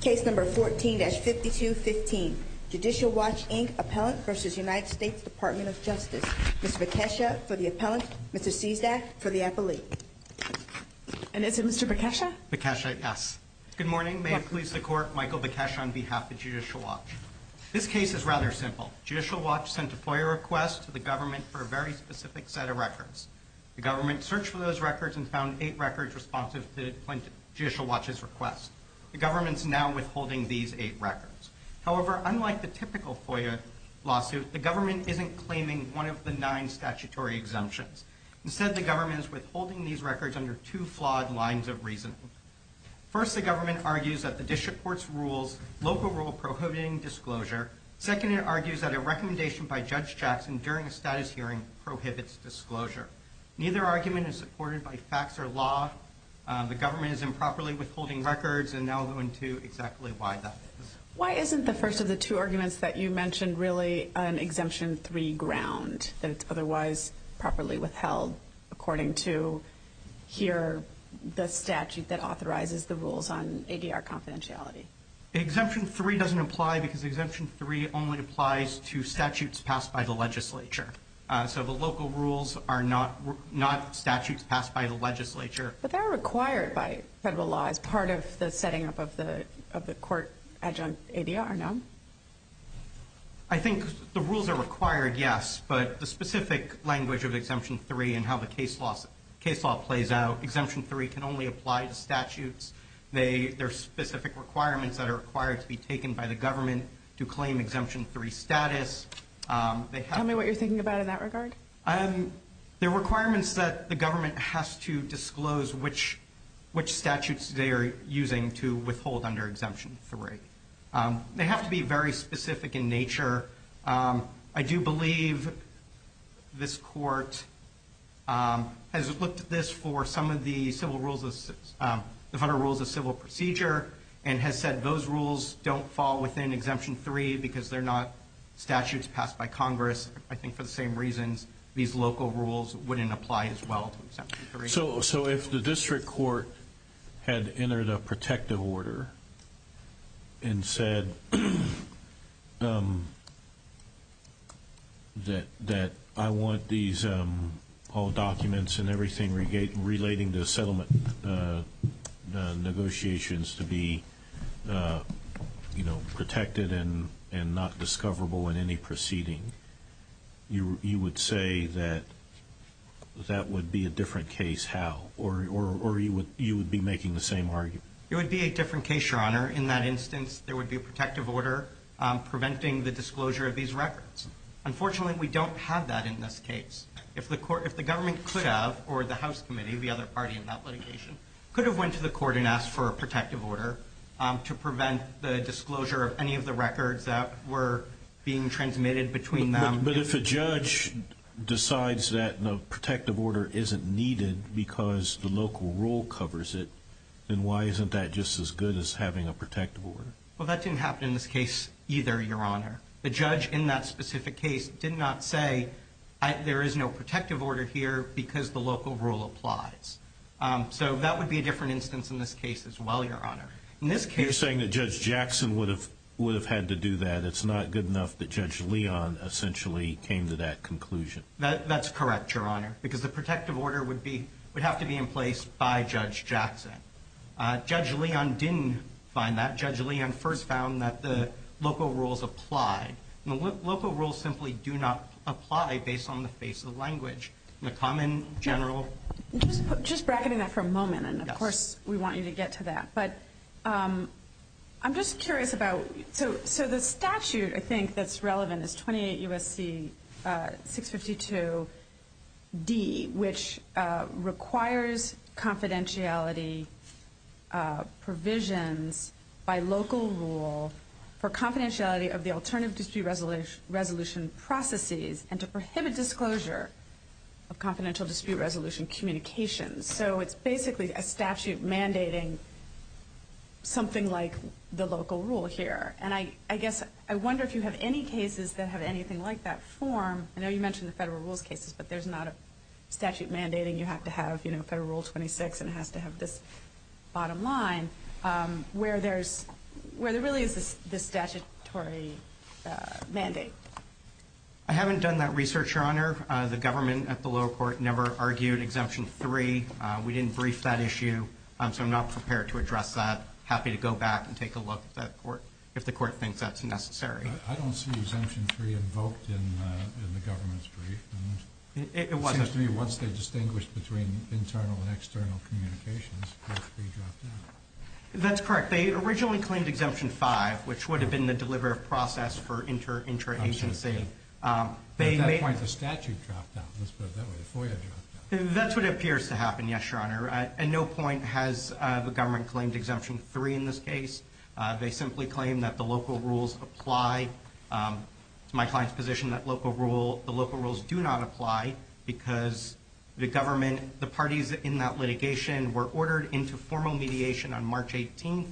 Case No. 14-5215, Judicial Watch, Inc. Appellant v. United States Department of Justice. Mr. Bekesha for the appellant. Mr. Cizdak for the appellee. And is it Mr. Bekesha? Bekesha, yes. Good morning. May it please the Court, Michael Bekesha on behalf of Judicial Watch. This case is rather simple. Judicial Watch sent a FOIA request to the government for a very specific set of records. The government searched for those records and found eight records responsive to Judicial Watch's request. The government is now withholding these eight records. However, unlike the typical FOIA lawsuit, the government isn't claiming one of the nine statutory exemptions. Instead, the government is withholding these records under two flawed lines of reasoning. First, the government argues that the district court's local rule prohibiting disclosure. Second, it argues that a recommendation by Judge Jackson during a status hearing prohibits disclosure. Neither argument is supported by facts or law. The government is improperly withholding records, and I'll go into exactly why that is. Why isn't the first of the two arguments that you mentioned really an Exemption 3 ground, that it's otherwise properly withheld according to here the statute that authorizes the rules on ADR confidentiality? Exemption 3 doesn't apply because Exemption 3 only applies to statutes passed by the legislature. So the local rules are not statutes passed by the legislature. But they're required by federal law as part of the setting up of the court adjunct ADR, no? I think the rules are required, yes. But the specific language of Exemption 3 and how the case law plays out, Exemption 3 can only apply to statutes. There are specific requirements that are required to be taken by the government to claim Exemption 3 status. Tell me what you're thinking about in that regard. There are requirements that the government has to disclose which statutes they are using to withhold under Exemption 3. They have to be very specific in nature. I do believe this court has looked at this for some of the federal rules of civil procedure and has said those rules don't fall within Exemption 3 because they're not statutes passed by Congress. I think for the same reasons, these local rules wouldn't apply as well to Exemption 3. So if the district court had entered a protective order and said that I want all documents and everything relating to settlement negotiations to be protected and not discoverable in any proceeding, you would say that that would be a different case, how? Or you would be making the same argument? It would be a different case, Your Honor. In that instance, there would be a protective order preventing the disclosure of these records. Unfortunately, we don't have that in this case. If the government could have, or the House Committee, the other party in that litigation, could have went to the court and asked for a protective order to prevent the disclosure of any of the records that were being transmitted between them. But if a judge decides that a protective order isn't needed because the local rule covers it, then why isn't that just as good as having a protective order? Well, that didn't happen in this case either, Your Honor. The judge in that specific case did not say there is no protective order here because the local rule applies. So that would be a different instance in this case as well, Your Honor. You're saying that Judge Jackson would have had to do that. It's not good enough that Judge Leon essentially came to that conclusion. That's correct, Your Honor, because the protective order would have to be in place by Judge Jackson. Judge Leon didn't find that. Judge Leon first found that the local rules applied. The local rules simply do not apply based on the face of the language. The common general. Just bracketing that for a moment, and of course we want you to get to that. But I'm just curious about, so the statute I think that's relevant is 28 U.S.C. 652 D, which requires confidentiality provisions by local rule for confidentiality of the alternative dispute resolution processes and to prohibit disclosure of confidential dispute resolution communications. So it's basically a statute mandating something like the local rule here. And I guess I wonder if you have any cases that have anything like that form. I know you mentioned the federal rules cases, but there's not a statute mandating you have to have, you know, Federal Rule 26 and it has to have this bottom line where there really is this statutory mandate. I'm aware the government at the lower court never argued Exemption 3. We didn't brief that issue. So I'm not prepared to address that. Happy to go back and take a look at that court if the court thinks that's necessary. I don't see Exemption 3 invoked in the government's brief. It seems to me once they distinguish between internal and external communications, it has to be dropped out. That's correct. They originally claimed Exemption 5, which would have been the delivery of process for interagency. At that point, the statute dropped out. Let's put it that way. The FOIA dropped out. That's what appears to happen, yes, Your Honor. At no point has the government claimed Exemption 3 in this case. They simply claim that the local rules apply. It's my client's position that the local rules do not apply because the government, the parties in that litigation were ordered into formal mediation on March 18th,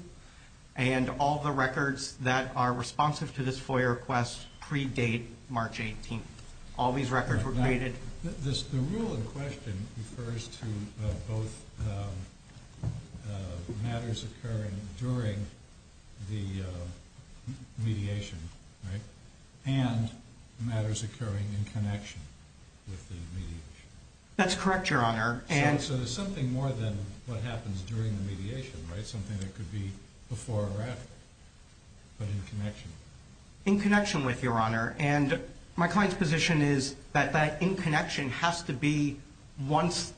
and all the records that are responsive to this FOIA request predate March 18th. All these records were created. The rule in question refers to both matters occurring during the mediation, right, and matters occurring in connection with the mediation. That's correct, Your Honor. So there's something more than what happens during the mediation, right, and something that could be before or after, but in connection. In connection with, Your Honor. And my client's position is that that in connection has to be once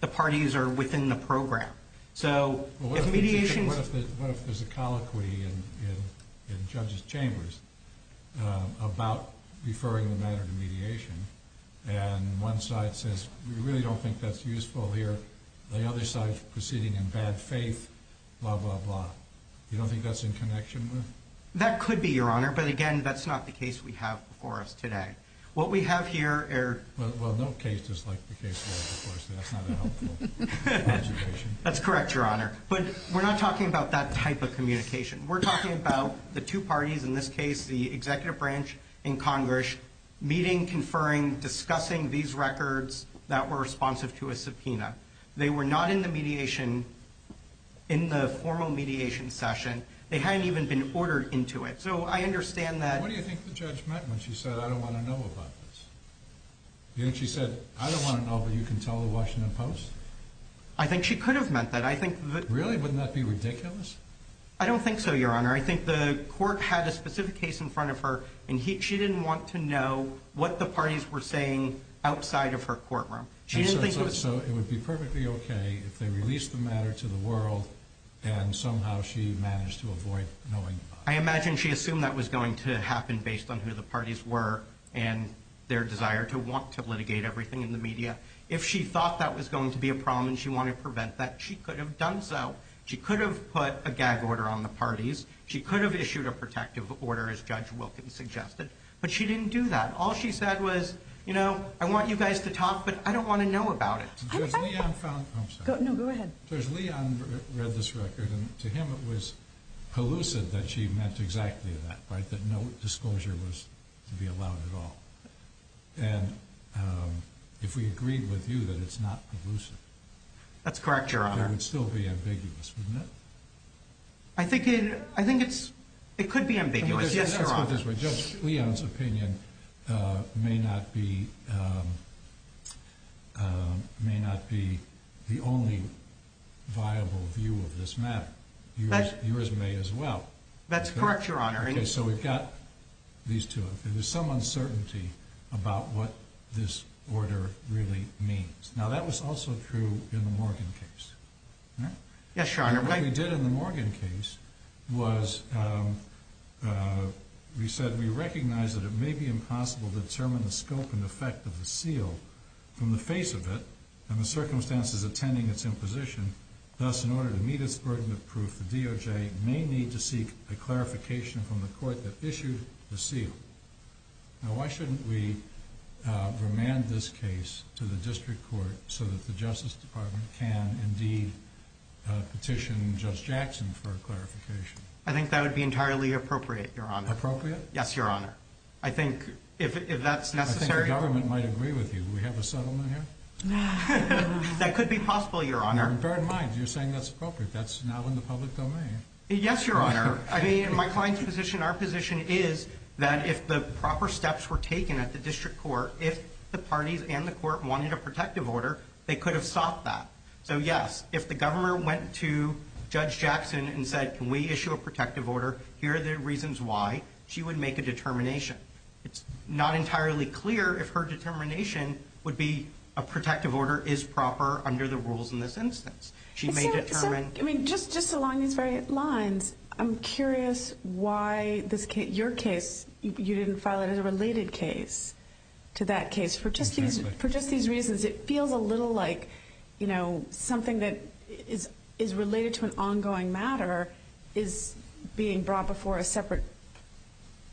the parties are within the program. So if mediation— Well, what if there's a colloquy in judges' chambers about referring the matter to mediation, and one side says, we really don't think that's useful here, and the other side's proceeding in bad faith, blah, blah, blah. You don't think that's in connection with— That could be, Your Honor, but again, that's not the case we have before us today. What we have here— Well, no case is like the case we have before us today. That's not a helpful observation. That's correct, Your Honor. But we're not talking about that type of communication. We're talking about the two parties, in this case the executive branch in Congress, meeting, conferring, discussing these records that were responsive to a subpoena. They were not in the mediation, in the formal mediation session. They hadn't even been ordered into it. So I understand that— What do you think the judge meant when she said, I don't want to know about this? Didn't she say, I don't want to know, but you can tell the Washington Post? I think she could have meant that. Really? Wouldn't that be ridiculous? I don't think so, Your Honor. I think the court had a specific case in front of her, and she didn't want to know what the parties were saying outside of her courtroom. So it would be perfectly okay if they released the matter to the world and somehow she managed to avoid knowing about it. I imagine she assumed that was going to happen based on who the parties were and their desire to want to litigate everything in the media. If she thought that was going to be a problem and she wanted to prevent that, she could have done so. She could have put a gag order on the parties. She could have issued a protective order, as Judge Wilkins suggested, but she didn't do that. All she said was, you know, I want you guys to talk, but I don't want to know about it. Judge Leon found— I'm sorry. No, go ahead. Judge Leon read this record, and to him it was elusive that she meant exactly that, that no disclosure was to be allowed at all. And if we agreed with you that it's not elusive— That's correct, Your Honor. —it would still be ambiguous, wouldn't it? I think it could be ambiguous, yes, Your Honor. Let's put it this way. Judge Leon's opinion may not be the only viable view of this matter. Yours may as well. That's correct, Your Honor. Okay, so we've got these two. There's some uncertainty about what this order really means. Now, that was also true in the Morgan case. Yes, Your Honor. What we did in the Morgan case was we said we recognize that it may be impossible to determine the scope and effect of the seal from the face of it and the circumstances attending its imposition. Thus, in order to meet its burden of proof, the DOJ may need to seek a clarification from the court that issued the seal. Now, why shouldn't we remand this case to the district court so that the Justice Department can indeed petition Judge Jackson for a clarification? I think that would be entirely appropriate, Your Honor. Appropriate? Yes, Your Honor. I think if that's necessary— I think the government might agree with you. Do we have a settlement here? That could be possible, Your Honor. And bear in mind, you're saying that's appropriate. That's not in the public domain. Yes, Your Honor. I mean, in my client's position, our position is that if the proper steps were taken at the district court, if the parties and the court wanted a protective order, they could have sought that. So, yes, if the government went to Judge Jackson and said, can we issue a protective order, here are the reasons why, she would make a determination. It's not entirely clear if her determination would be a protective order is proper under the rules in this instance. She may determine— I mean, just along these very lines, I'm curious why your case, you didn't file it as a related case to that case. For just these reasons, it feels a little like, you know, something that is related to an ongoing matter is being brought before a separate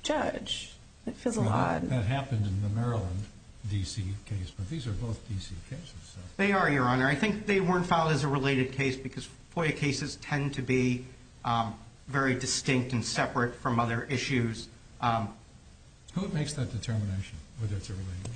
judge. It feels a lot. That happened in the Maryland D.C. case, but these are both D.C. cases. They are, Your Honor. I think they weren't filed as a related case because FOIA cases tend to be very distinct and separate from other issues. Who makes that determination whether it's a related case?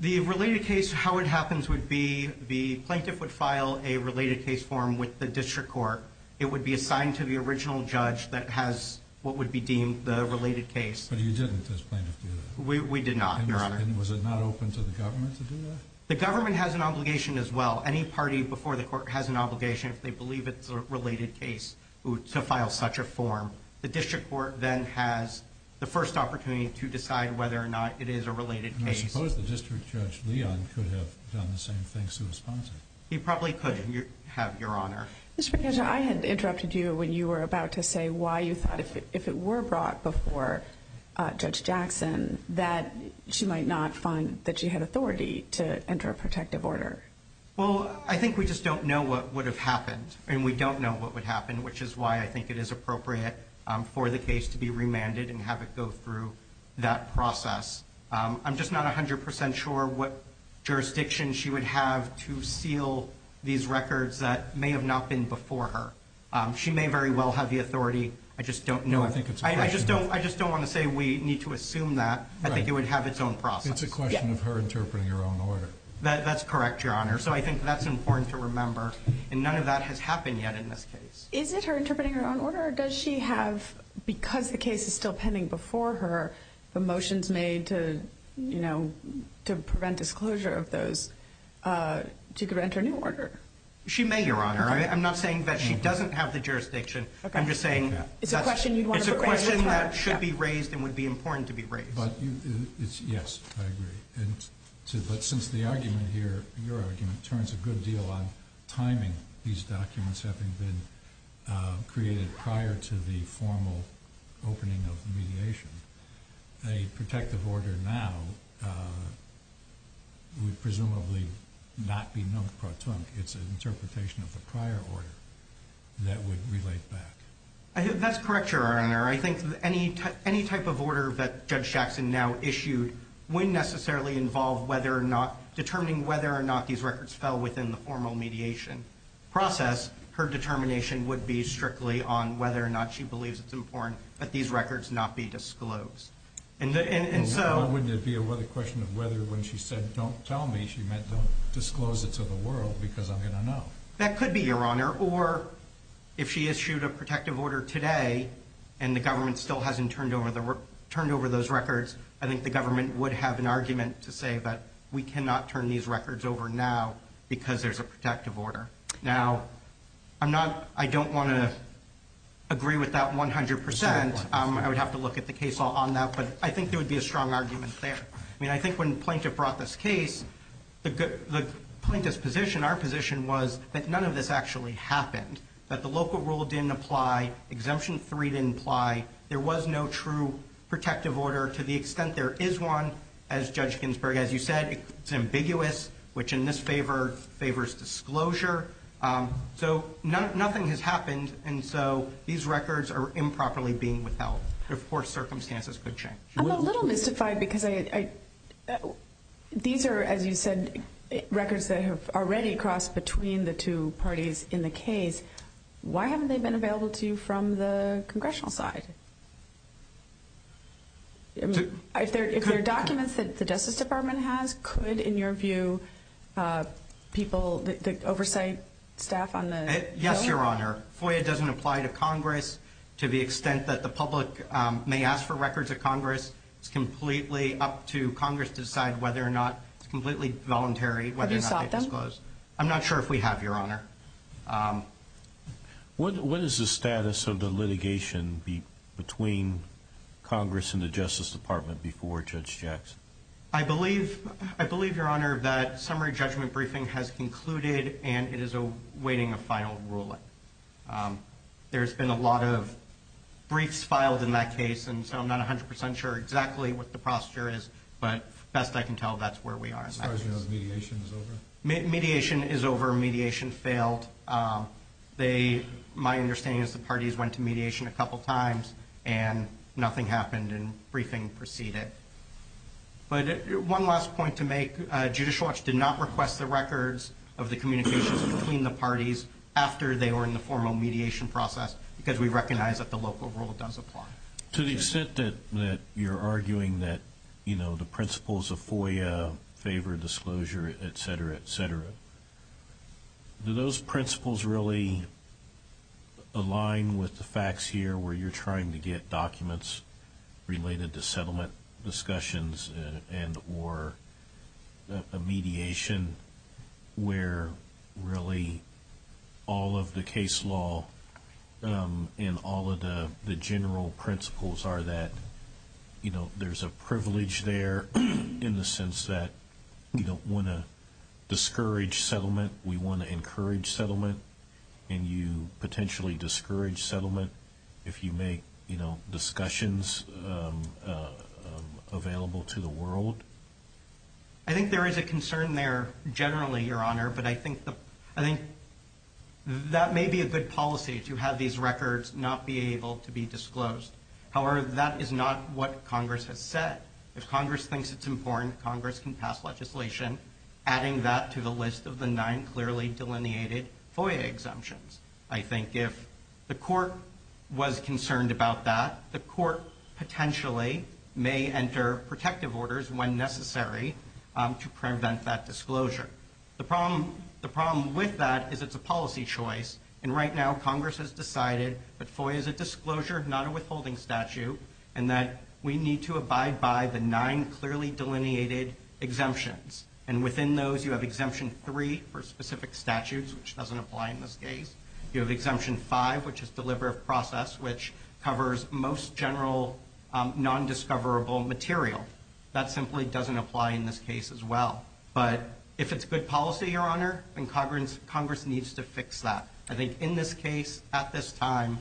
The related case, how it happens would be the plaintiff would file a related case form with the district court. It would be assigned to the original judge that has what would be deemed the related case. But you didn't, as plaintiff, do that? We did not, Your Honor. And was it not open to the government to do that? The government has an obligation as well. Any party before the court has an obligation, if they believe it's a related case, to file such a form. The district court then has the first opportunity to decide whether or not it is a related case. I suppose the district judge, Leon, could have done the same thing. He probably could have, Your Honor. Mr. McKenzie, I had interrupted you when you were about to say why you thought if it were brought before Judge Jackson that she might not find that she had authority to enter a protective order. Well, I think we just don't know what would have happened, and we don't know what would happen, which is why I think it is appropriate for the case to be remanded and have it go through that process. I'm just not 100% sure what jurisdiction she would have to seal these records that may have not been before her. She may very well have the authority. I just don't know. I just don't want to say we need to assume that. I think it would have its own process. It's a question of her interpreting her own order. That's correct, Your Honor. So I think that's important to remember, and none of that has happened yet in this case. Is it her interpreting her own order, or does she have, because the case is still pending before her, the motions made to prevent disclosure of those, to grant her a new order? She may, Your Honor. I'm not saying that she doesn't have the jurisdiction. I'm just saying it's a question that should be raised and would be important to be raised. Yes, I agree. But since the argument here, your argument, turns a good deal on timing these documents having been created prior to the formal opening of the mediation, a protective order now would presumably not be non-protonic. It's an interpretation of a prior order that would relate back. That's correct, Your Honor. I think any type of order that Judge Shaxson now issued wouldn't necessarily involve determining whether or not these records fell within the formal mediation process. Her determination would be strictly on whether or not she believes it's important that these records not be disclosed. Why wouldn't it be a question of whether when she said, don't tell me, she meant don't disclose it to the world because I'm going to know? That could be, Your Honor. Or if she issued a protective order today and the government still hasn't turned over those records, I think the government would have an argument to say that we cannot turn these records over now because there's a protective order. Now, I don't want to agree with that 100%. I would have to look at the case law on that. But I think there would be a strong argument there. I mean, I think when Plaintiff brought this case, the Plaintiff's position, our position, was that none of this actually happened, that the local rule didn't apply, Exemption 3 didn't apply, there was no true protective order to the extent there is one. As Judge Ginsburg, as you said, it's ambiguous, which in this favor favors disclosure. So nothing has happened, and so these records are improperly being without before circumstances could change. I'm a little mystified because these are, as you said, records that have already crossed between the two parties in the case. Why haven't they been available to you from the congressional side? If they're documents that the Justice Department has, could, in your view, people, the oversight staff on the FOIA? Yes, Your Honor. FOIA doesn't apply to Congress. To the extent that the public may ask for records of Congress, it's completely up to Congress to decide whether or not it's completely voluntary whether or not they disclose. Have you sought them? I'm not sure if we have, Your Honor. What is the status of the litigation between Congress and the Justice Department before Judge Jackson? I believe, Your Honor, that summary judgment briefing has concluded and it is awaiting a final ruling. There's been a lot of briefs filed in that case, and so I'm not 100% sure exactly what the procedure is, but best I can tell that's where we are in that case. As far as you know, the mediation is over? Mediation is over. Mediation failed. My understanding is the parties went to mediation a couple times, and nothing happened, and briefing proceeded. But one last point to make. Judicial Watch did not request the records of the communications between the parties after they were in the formal mediation process because we recognize that the local rule does apply. To the extent that you're arguing that, you know, the principles of FOIA favor disclosure, et cetera, et cetera, do those principles really align with the facts here where you're trying to get documents related to settlement discussions and or a mediation where really all of the case law and all of the general principles are that, you know, there's a privilege there in the sense that you don't want to discourage settlement. We want to encourage settlement, and you potentially discourage settlement if you make, you know, discussions available to the world. I think there is a concern there generally, Your Honor, but I think that may be a good policy to have these records not be able to be disclosed. However, that is not what Congress has said. If Congress thinks it's important, Congress can pass legislation adding that to the list of the nine clearly delineated FOIA exemptions. I think if the court was concerned about that, the court potentially may enter protective orders when necessary to prevent that disclosure. The problem with that is it's a policy choice, and right now Congress has decided that FOIA is a disclosure, not a withholding statute, and that we need to abide by the nine clearly delineated exemptions. And within those, you have Exemption 3 for specific statutes, which doesn't apply in this case. You have Exemption 5, which is Deliver of Process, which covers most general nondiscoverable material. That simply doesn't apply in this case as well. But if it's good policy, Your Honor, then Congress needs to fix that. I think in this case, at this time,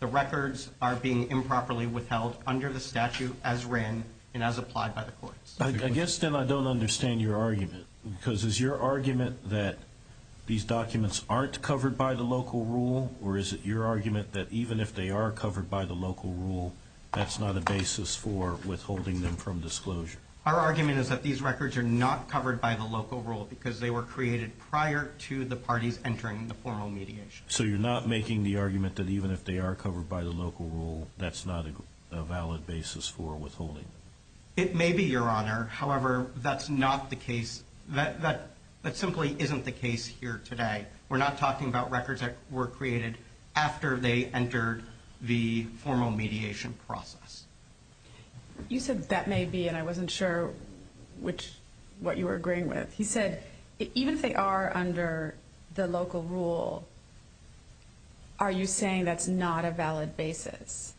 the records are being improperly withheld under the statute as written and as applied by the courts. I guess then I don't understand your argument, because is your argument that these documents aren't covered by the local rule, or is it your argument that even if they are covered by the local rule, that's not a basis for withholding them from disclosure? Our argument is that these records are not covered by the local rule because they were created prior to the parties entering the formal mediation. So you're not making the argument that even if they are covered by the local rule, that's not a valid basis for withholding them? It may be, Your Honor. However, that's not the case. That simply isn't the case here today. We're not talking about records that were created after they entered the formal mediation process. You said that may be, and I wasn't sure what you were agreeing with. You said even if they are under the local rule, are you saying that's not a valid basis?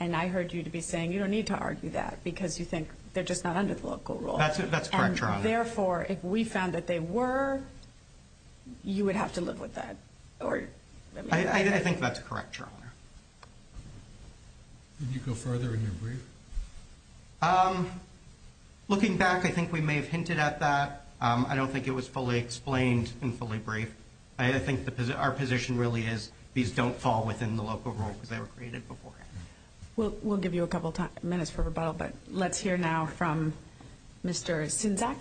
And I heard you to be saying you don't need to argue that because you think they're just not under the local rule. That's correct, Your Honor. Therefore, if we found that they were, you would have to live with that. I think that's correct, Your Honor. Did you go further in your brief? Looking back, I think we may have hinted at that. I don't think it was fully explained in fully brief. I think our position really is these don't fall within the local rule because they were created beforehand. We'll give you a couple minutes for rebuttal, but let's hear now from Mr. Sinzak.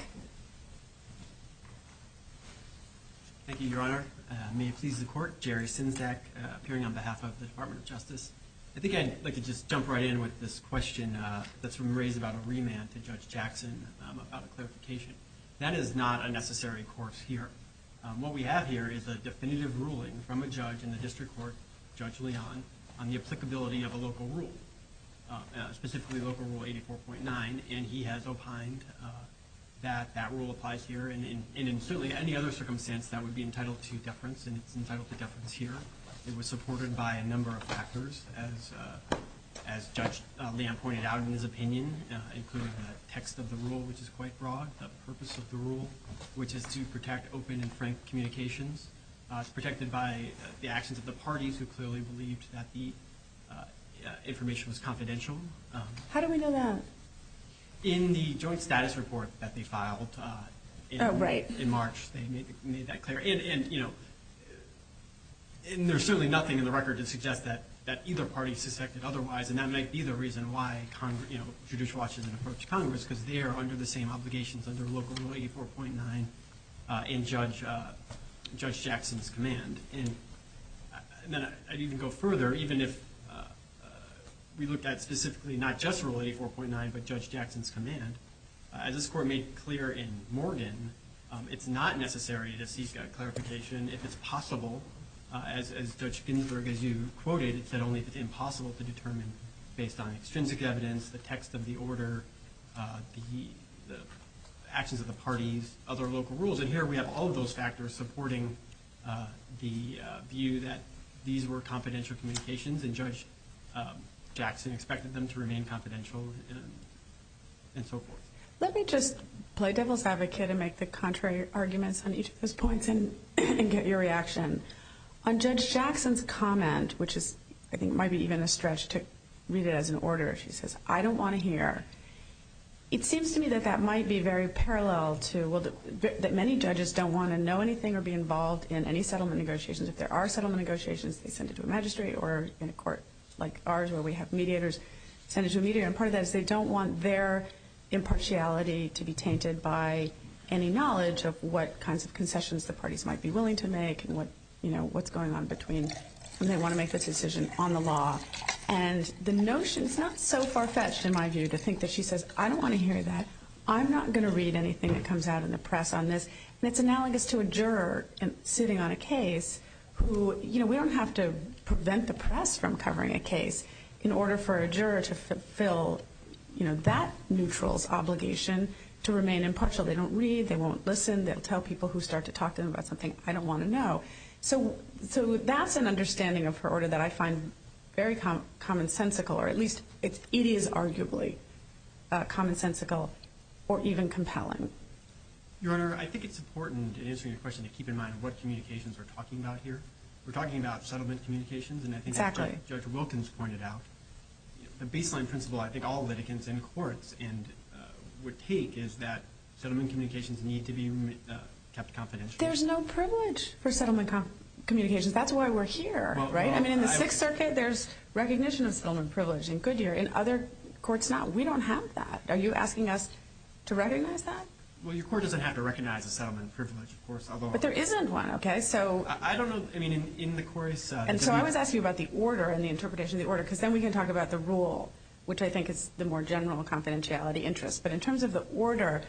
Thank you, Your Honor. May it please the Court, Jerry Sinzak, appearing on behalf of the Department of Justice. I think I'd like to just jump right in with this question that's been raised about a remand to Judge Jackson, about a clarification. That is not a necessary course here. What we have here is a definitive ruling from a judge in the district court, Judge Leon, on the applicability of a local rule, specifically Local Rule 84.9, and he has opined that that rule applies here and in certainly any other circumstance that would be entitled to deference, and it's entitled to deference here. It was supported by a number of factors, as Judge Leon pointed out in his opinion, including the text of the rule, which is quite broad, the purpose of the rule, which is to protect open and frank communications. It's protected by the actions of the parties who clearly believed that the information was confidential. How do we know that? In the joint status report that they filed in March, they made that clear. And there's certainly nothing in the record to suggest that either party suspected otherwise, and that might be the reason why Judicial Watch didn't approach Congress because they are under the same obligations under Local Rule 84.9 in Judge Jackson's command. And then I'd even go further. Even if we looked at specifically not just Rule 84.9 but Judge Jackson's command, as this Court made clear in Morgan, it's not necessary to seek a clarification. If it's possible, as Judge Ginsburg, as you quoted, said only if it's impossible to determine based on extrinsic evidence, the text of the order, the actions of the parties, other local rules. And here we have all of those factors supporting the view that these were confidential communications, and Judge Jackson expected them to remain confidential and so forth. Let me just play devil's advocate and make the contrary arguments on each of those points and get your reaction. On Judge Jackson's comment, which I think might be even a stretch to read it as an order, she says, I don't want to hear. It seems to me that that might be very parallel to that many judges don't want to know anything or be involved in any settlement negotiations. If there are settlement negotiations, they send it to a magistrate or in a court like ours where we have mediators, send it to a mediator. And part of that is they don't want their impartiality to be tainted by any knowledge of what kinds of concessions the parties might be willing to make and what's going on between when they want to make this decision on the law. And the notion is not so far-fetched, in my view, to think that she says, I don't want to hear that. I'm not going to read anything that comes out in the press on this. And it's analogous to a juror sitting on a case who, you know, we don't have to prevent the press from covering a case in order for a juror to fulfill, you know, that neutral's obligation to remain impartial. They don't read. They won't listen. They'll tell people who start to talk to them about something I don't want to know. So that's an understanding of her order that I find very commonsensical, or at least it is arguably commonsensical or even compelling. Your Honor, I think it's important in answering your question to keep in mind what communications we're talking about here. We're talking about settlement communications. Exactly. And I think what Judge Wilkins pointed out, the baseline principle I think all litigants in courts would take is that settlement communications need to be kept confidential. There's no privilege for settlement communications. That's why we're here, right? I mean, in the Sixth Circuit, there's recognition of settlement privilege. In Goodyear, in other courts, not. We don't have that. Are you asking us to recognize that? Well, your court doesn't have to recognize the settlement privilege, of course. But there isn't one, okay? I don't know. I mean, in the courts. And so I was asking you about the order and the interpretation of the order because then we can talk about the rule, which I think is the more general confidentiality interest. But in terms of the order,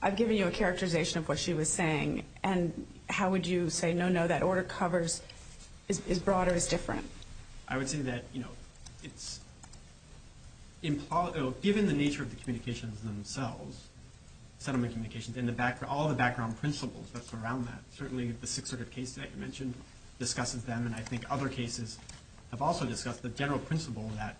I've given you a characterization of what she was saying. And how would you say, no, no, that order covers as broad or as different? I would say that, you know, given the nature of the communications themselves, settlement communications, and all the background principles that surround that, certainly the Sixth Circuit case that you mentioned discusses them, and I think other cases have also discussed the general principle that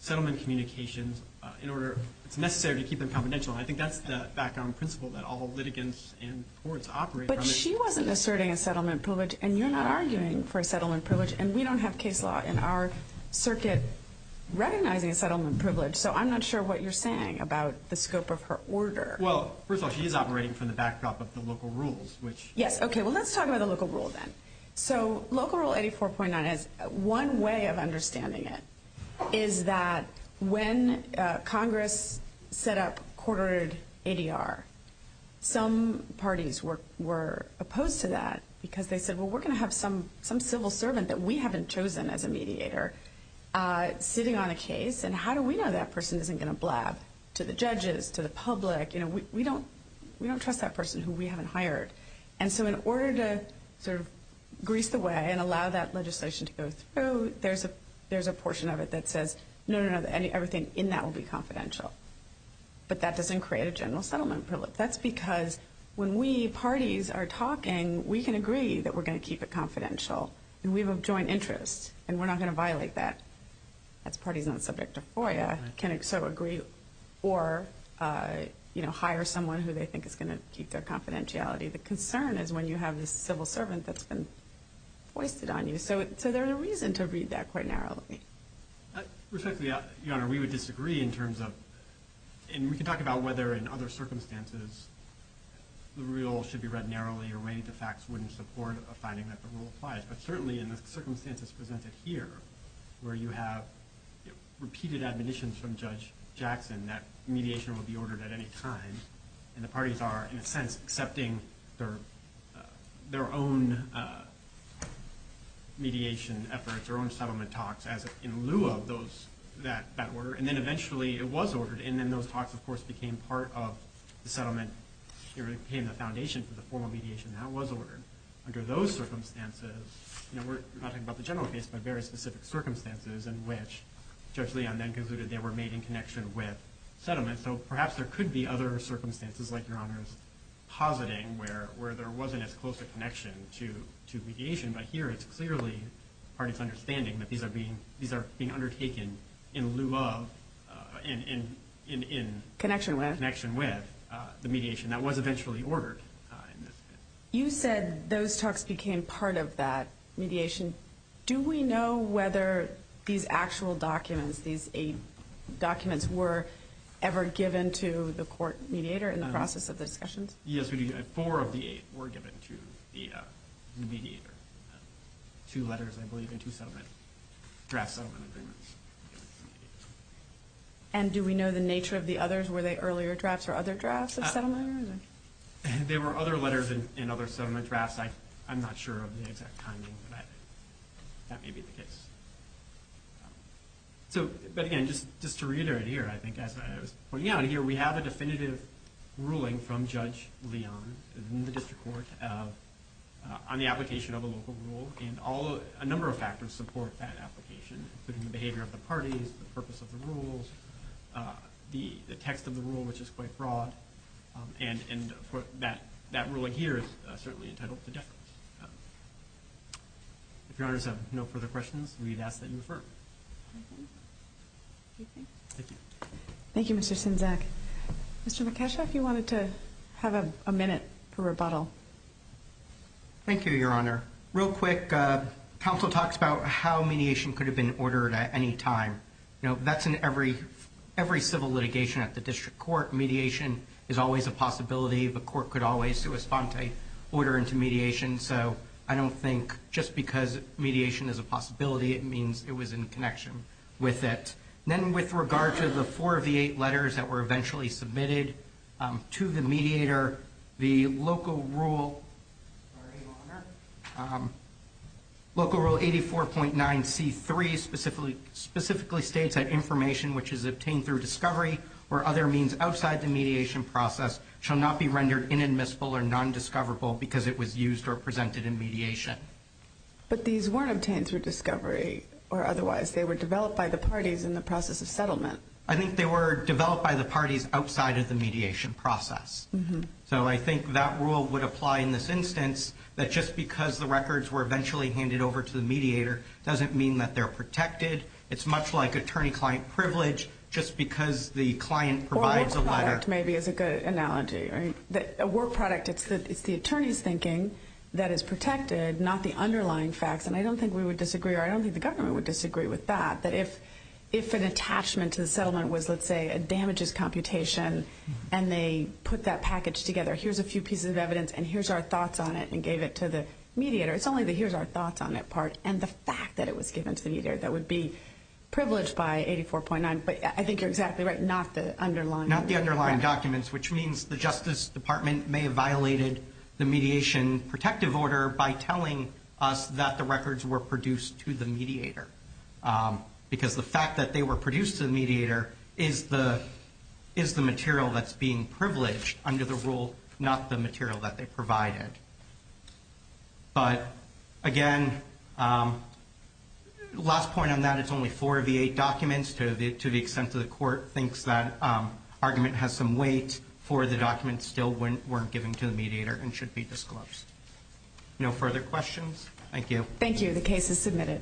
settlement communications, in order, it's necessary to keep them confidential. And I think that's the background principle that all litigants and courts operate from. But she wasn't asserting a settlement privilege, and you're not arguing for a settlement privilege, and we don't have case law in our circuit recognizing a settlement privilege. So I'm not sure what you're saying about the scope of her order. Well, first of all, she is operating from the backdrop of the local rules. Yes, okay. Well, let's talk about the local rule then. So local rule 84.9, one way of understanding it is that when Congress set up quartered ADR, some parties were opposed to that because they said, well, we're going to have some civil servant that we haven't chosen as a mediator sitting on a case, and how do we know that person isn't going to blab to the judges, to the public? You know, we don't trust that person who we haven't hired. And so in order to sort of grease the way and allow that legislation to go through, there's a portion of it that says, no, no, no, everything in that will be confidential. But that doesn't create a general settlement privilege. That's because when we parties are talking, we can agree that we're going to keep it confidential, and we have a joint interest, and we're not going to violate that. That's parties on the subject of FOIA can sort of agree or, you know, hire someone who they think is going to keep their confidentiality. The concern is when you have this civil servant that's been foisted on you. So there's a reason to read that quite narrowly. Respectfully, Your Honor, we would disagree in terms of, and we can talk about whether in other circumstances the rule should be read narrowly or whether the facts wouldn't support a finding that the rule applies. But certainly in the circumstances presented here, where you have repeated admonitions from Judge Jackson that mediation will be ordered at any time, and the parties are, in a sense, accepting their own mediation efforts or own settlement talks in lieu of that order. And then eventually it was ordered, and then those talks, of course, became part of the settlement. It became the foundation for the formal mediation that was ordered. And under those circumstances, you know, we're not talking about the general case, but very specific circumstances in which Judge Leon then concluded they were made in connection with settlement. So perhaps there could be other circumstances, like Your Honor's positing, where there wasn't as close a connection to mediation. But here it's clearly parties' understanding that these are being undertaken in lieu of and in connection with the mediation that was eventually ordered. You said those talks became part of that mediation. Do we know whether these actual documents, these eight documents, were ever given to the court mediator in the process of the discussions? Yes, we do. Four of the eight were given to the mediator. Two letters, I believe, and two draft settlement agreements. And do we know the nature of the others? Were they earlier drafts or other drafts of settlement agreements? There were other letters and other settlement drafts. I'm not sure of the exact timing, but that may be the case. But again, just to reiterate here, I think, as I was pointing out here, we have a definitive ruling from Judge Leon in the district court on the application of a local rule. And a number of factors support that application, including the behavior of the parties, the purpose of the rules, the text of the rule, which is quite broad. And that ruling here is certainly entitled to deference. If Your Honors have no further questions, we'd ask that you refer. Thank you. Thank you, Mr. Sinzak. Mr. Mikasha, if you wanted to have a minute for rebuttal. Thank you, Your Honor. Real quick, counsel talks about how mediation could have been ordered at any time. You know, that's in every civil litigation at the district court. Mediation is always a possibility. The court could always correspond to order into mediation. So I don't think just because mediation is a possibility, it means it was in connection with it. Then with regard to the four of the eight letters that were eventually submitted to the mediator, the local rule 84.9C3 specifically states that information which is obtained through discovery or other means outside the mediation process shall not be rendered inadmissible or nondiscoverable because it was used or presented in mediation. But these weren't obtained through discovery or otherwise. They were developed by the parties in the process of settlement. I think they were developed by the parties outside of the mediation process. So I think that rule would apply in this instance that just because the records were eventually handed over to the mediator doesn't mean that they're protected. It's much like attorney-client privilege just because the client provides a letter. Or a work product maybe is a good analogy. A work product, it's the attorney's thinking that is protected, not the underlying facts. And I don't think we would disagree, or I don't think the government would disagree with that, that if an attachment to the settlement was, let's say, a damages computation and they put that package together, here's a few pieces of evidence and here's our thoughts on it, and gave it to the mediator, it's only the here's our thoughts on it part and the fact that it was given to the mediator that would be privileged by 84.9. But I think you're exactly right, not the underlying documents. Not the underlying documents, which means the Justice Department may have violated the mediation protective order by telling us that the records were produced to the mediator. Because the fact that they were produced to the mediator is the material that's being privileged under the rule, not the material that they provided. But, again, last point on that, it's only four of the eight documents. To the extent that the court thinks that argument has some weight for the documents that still weren't given to the mediator and should be disclosed. No further questions? Thank you. Thank you. The case is submitted.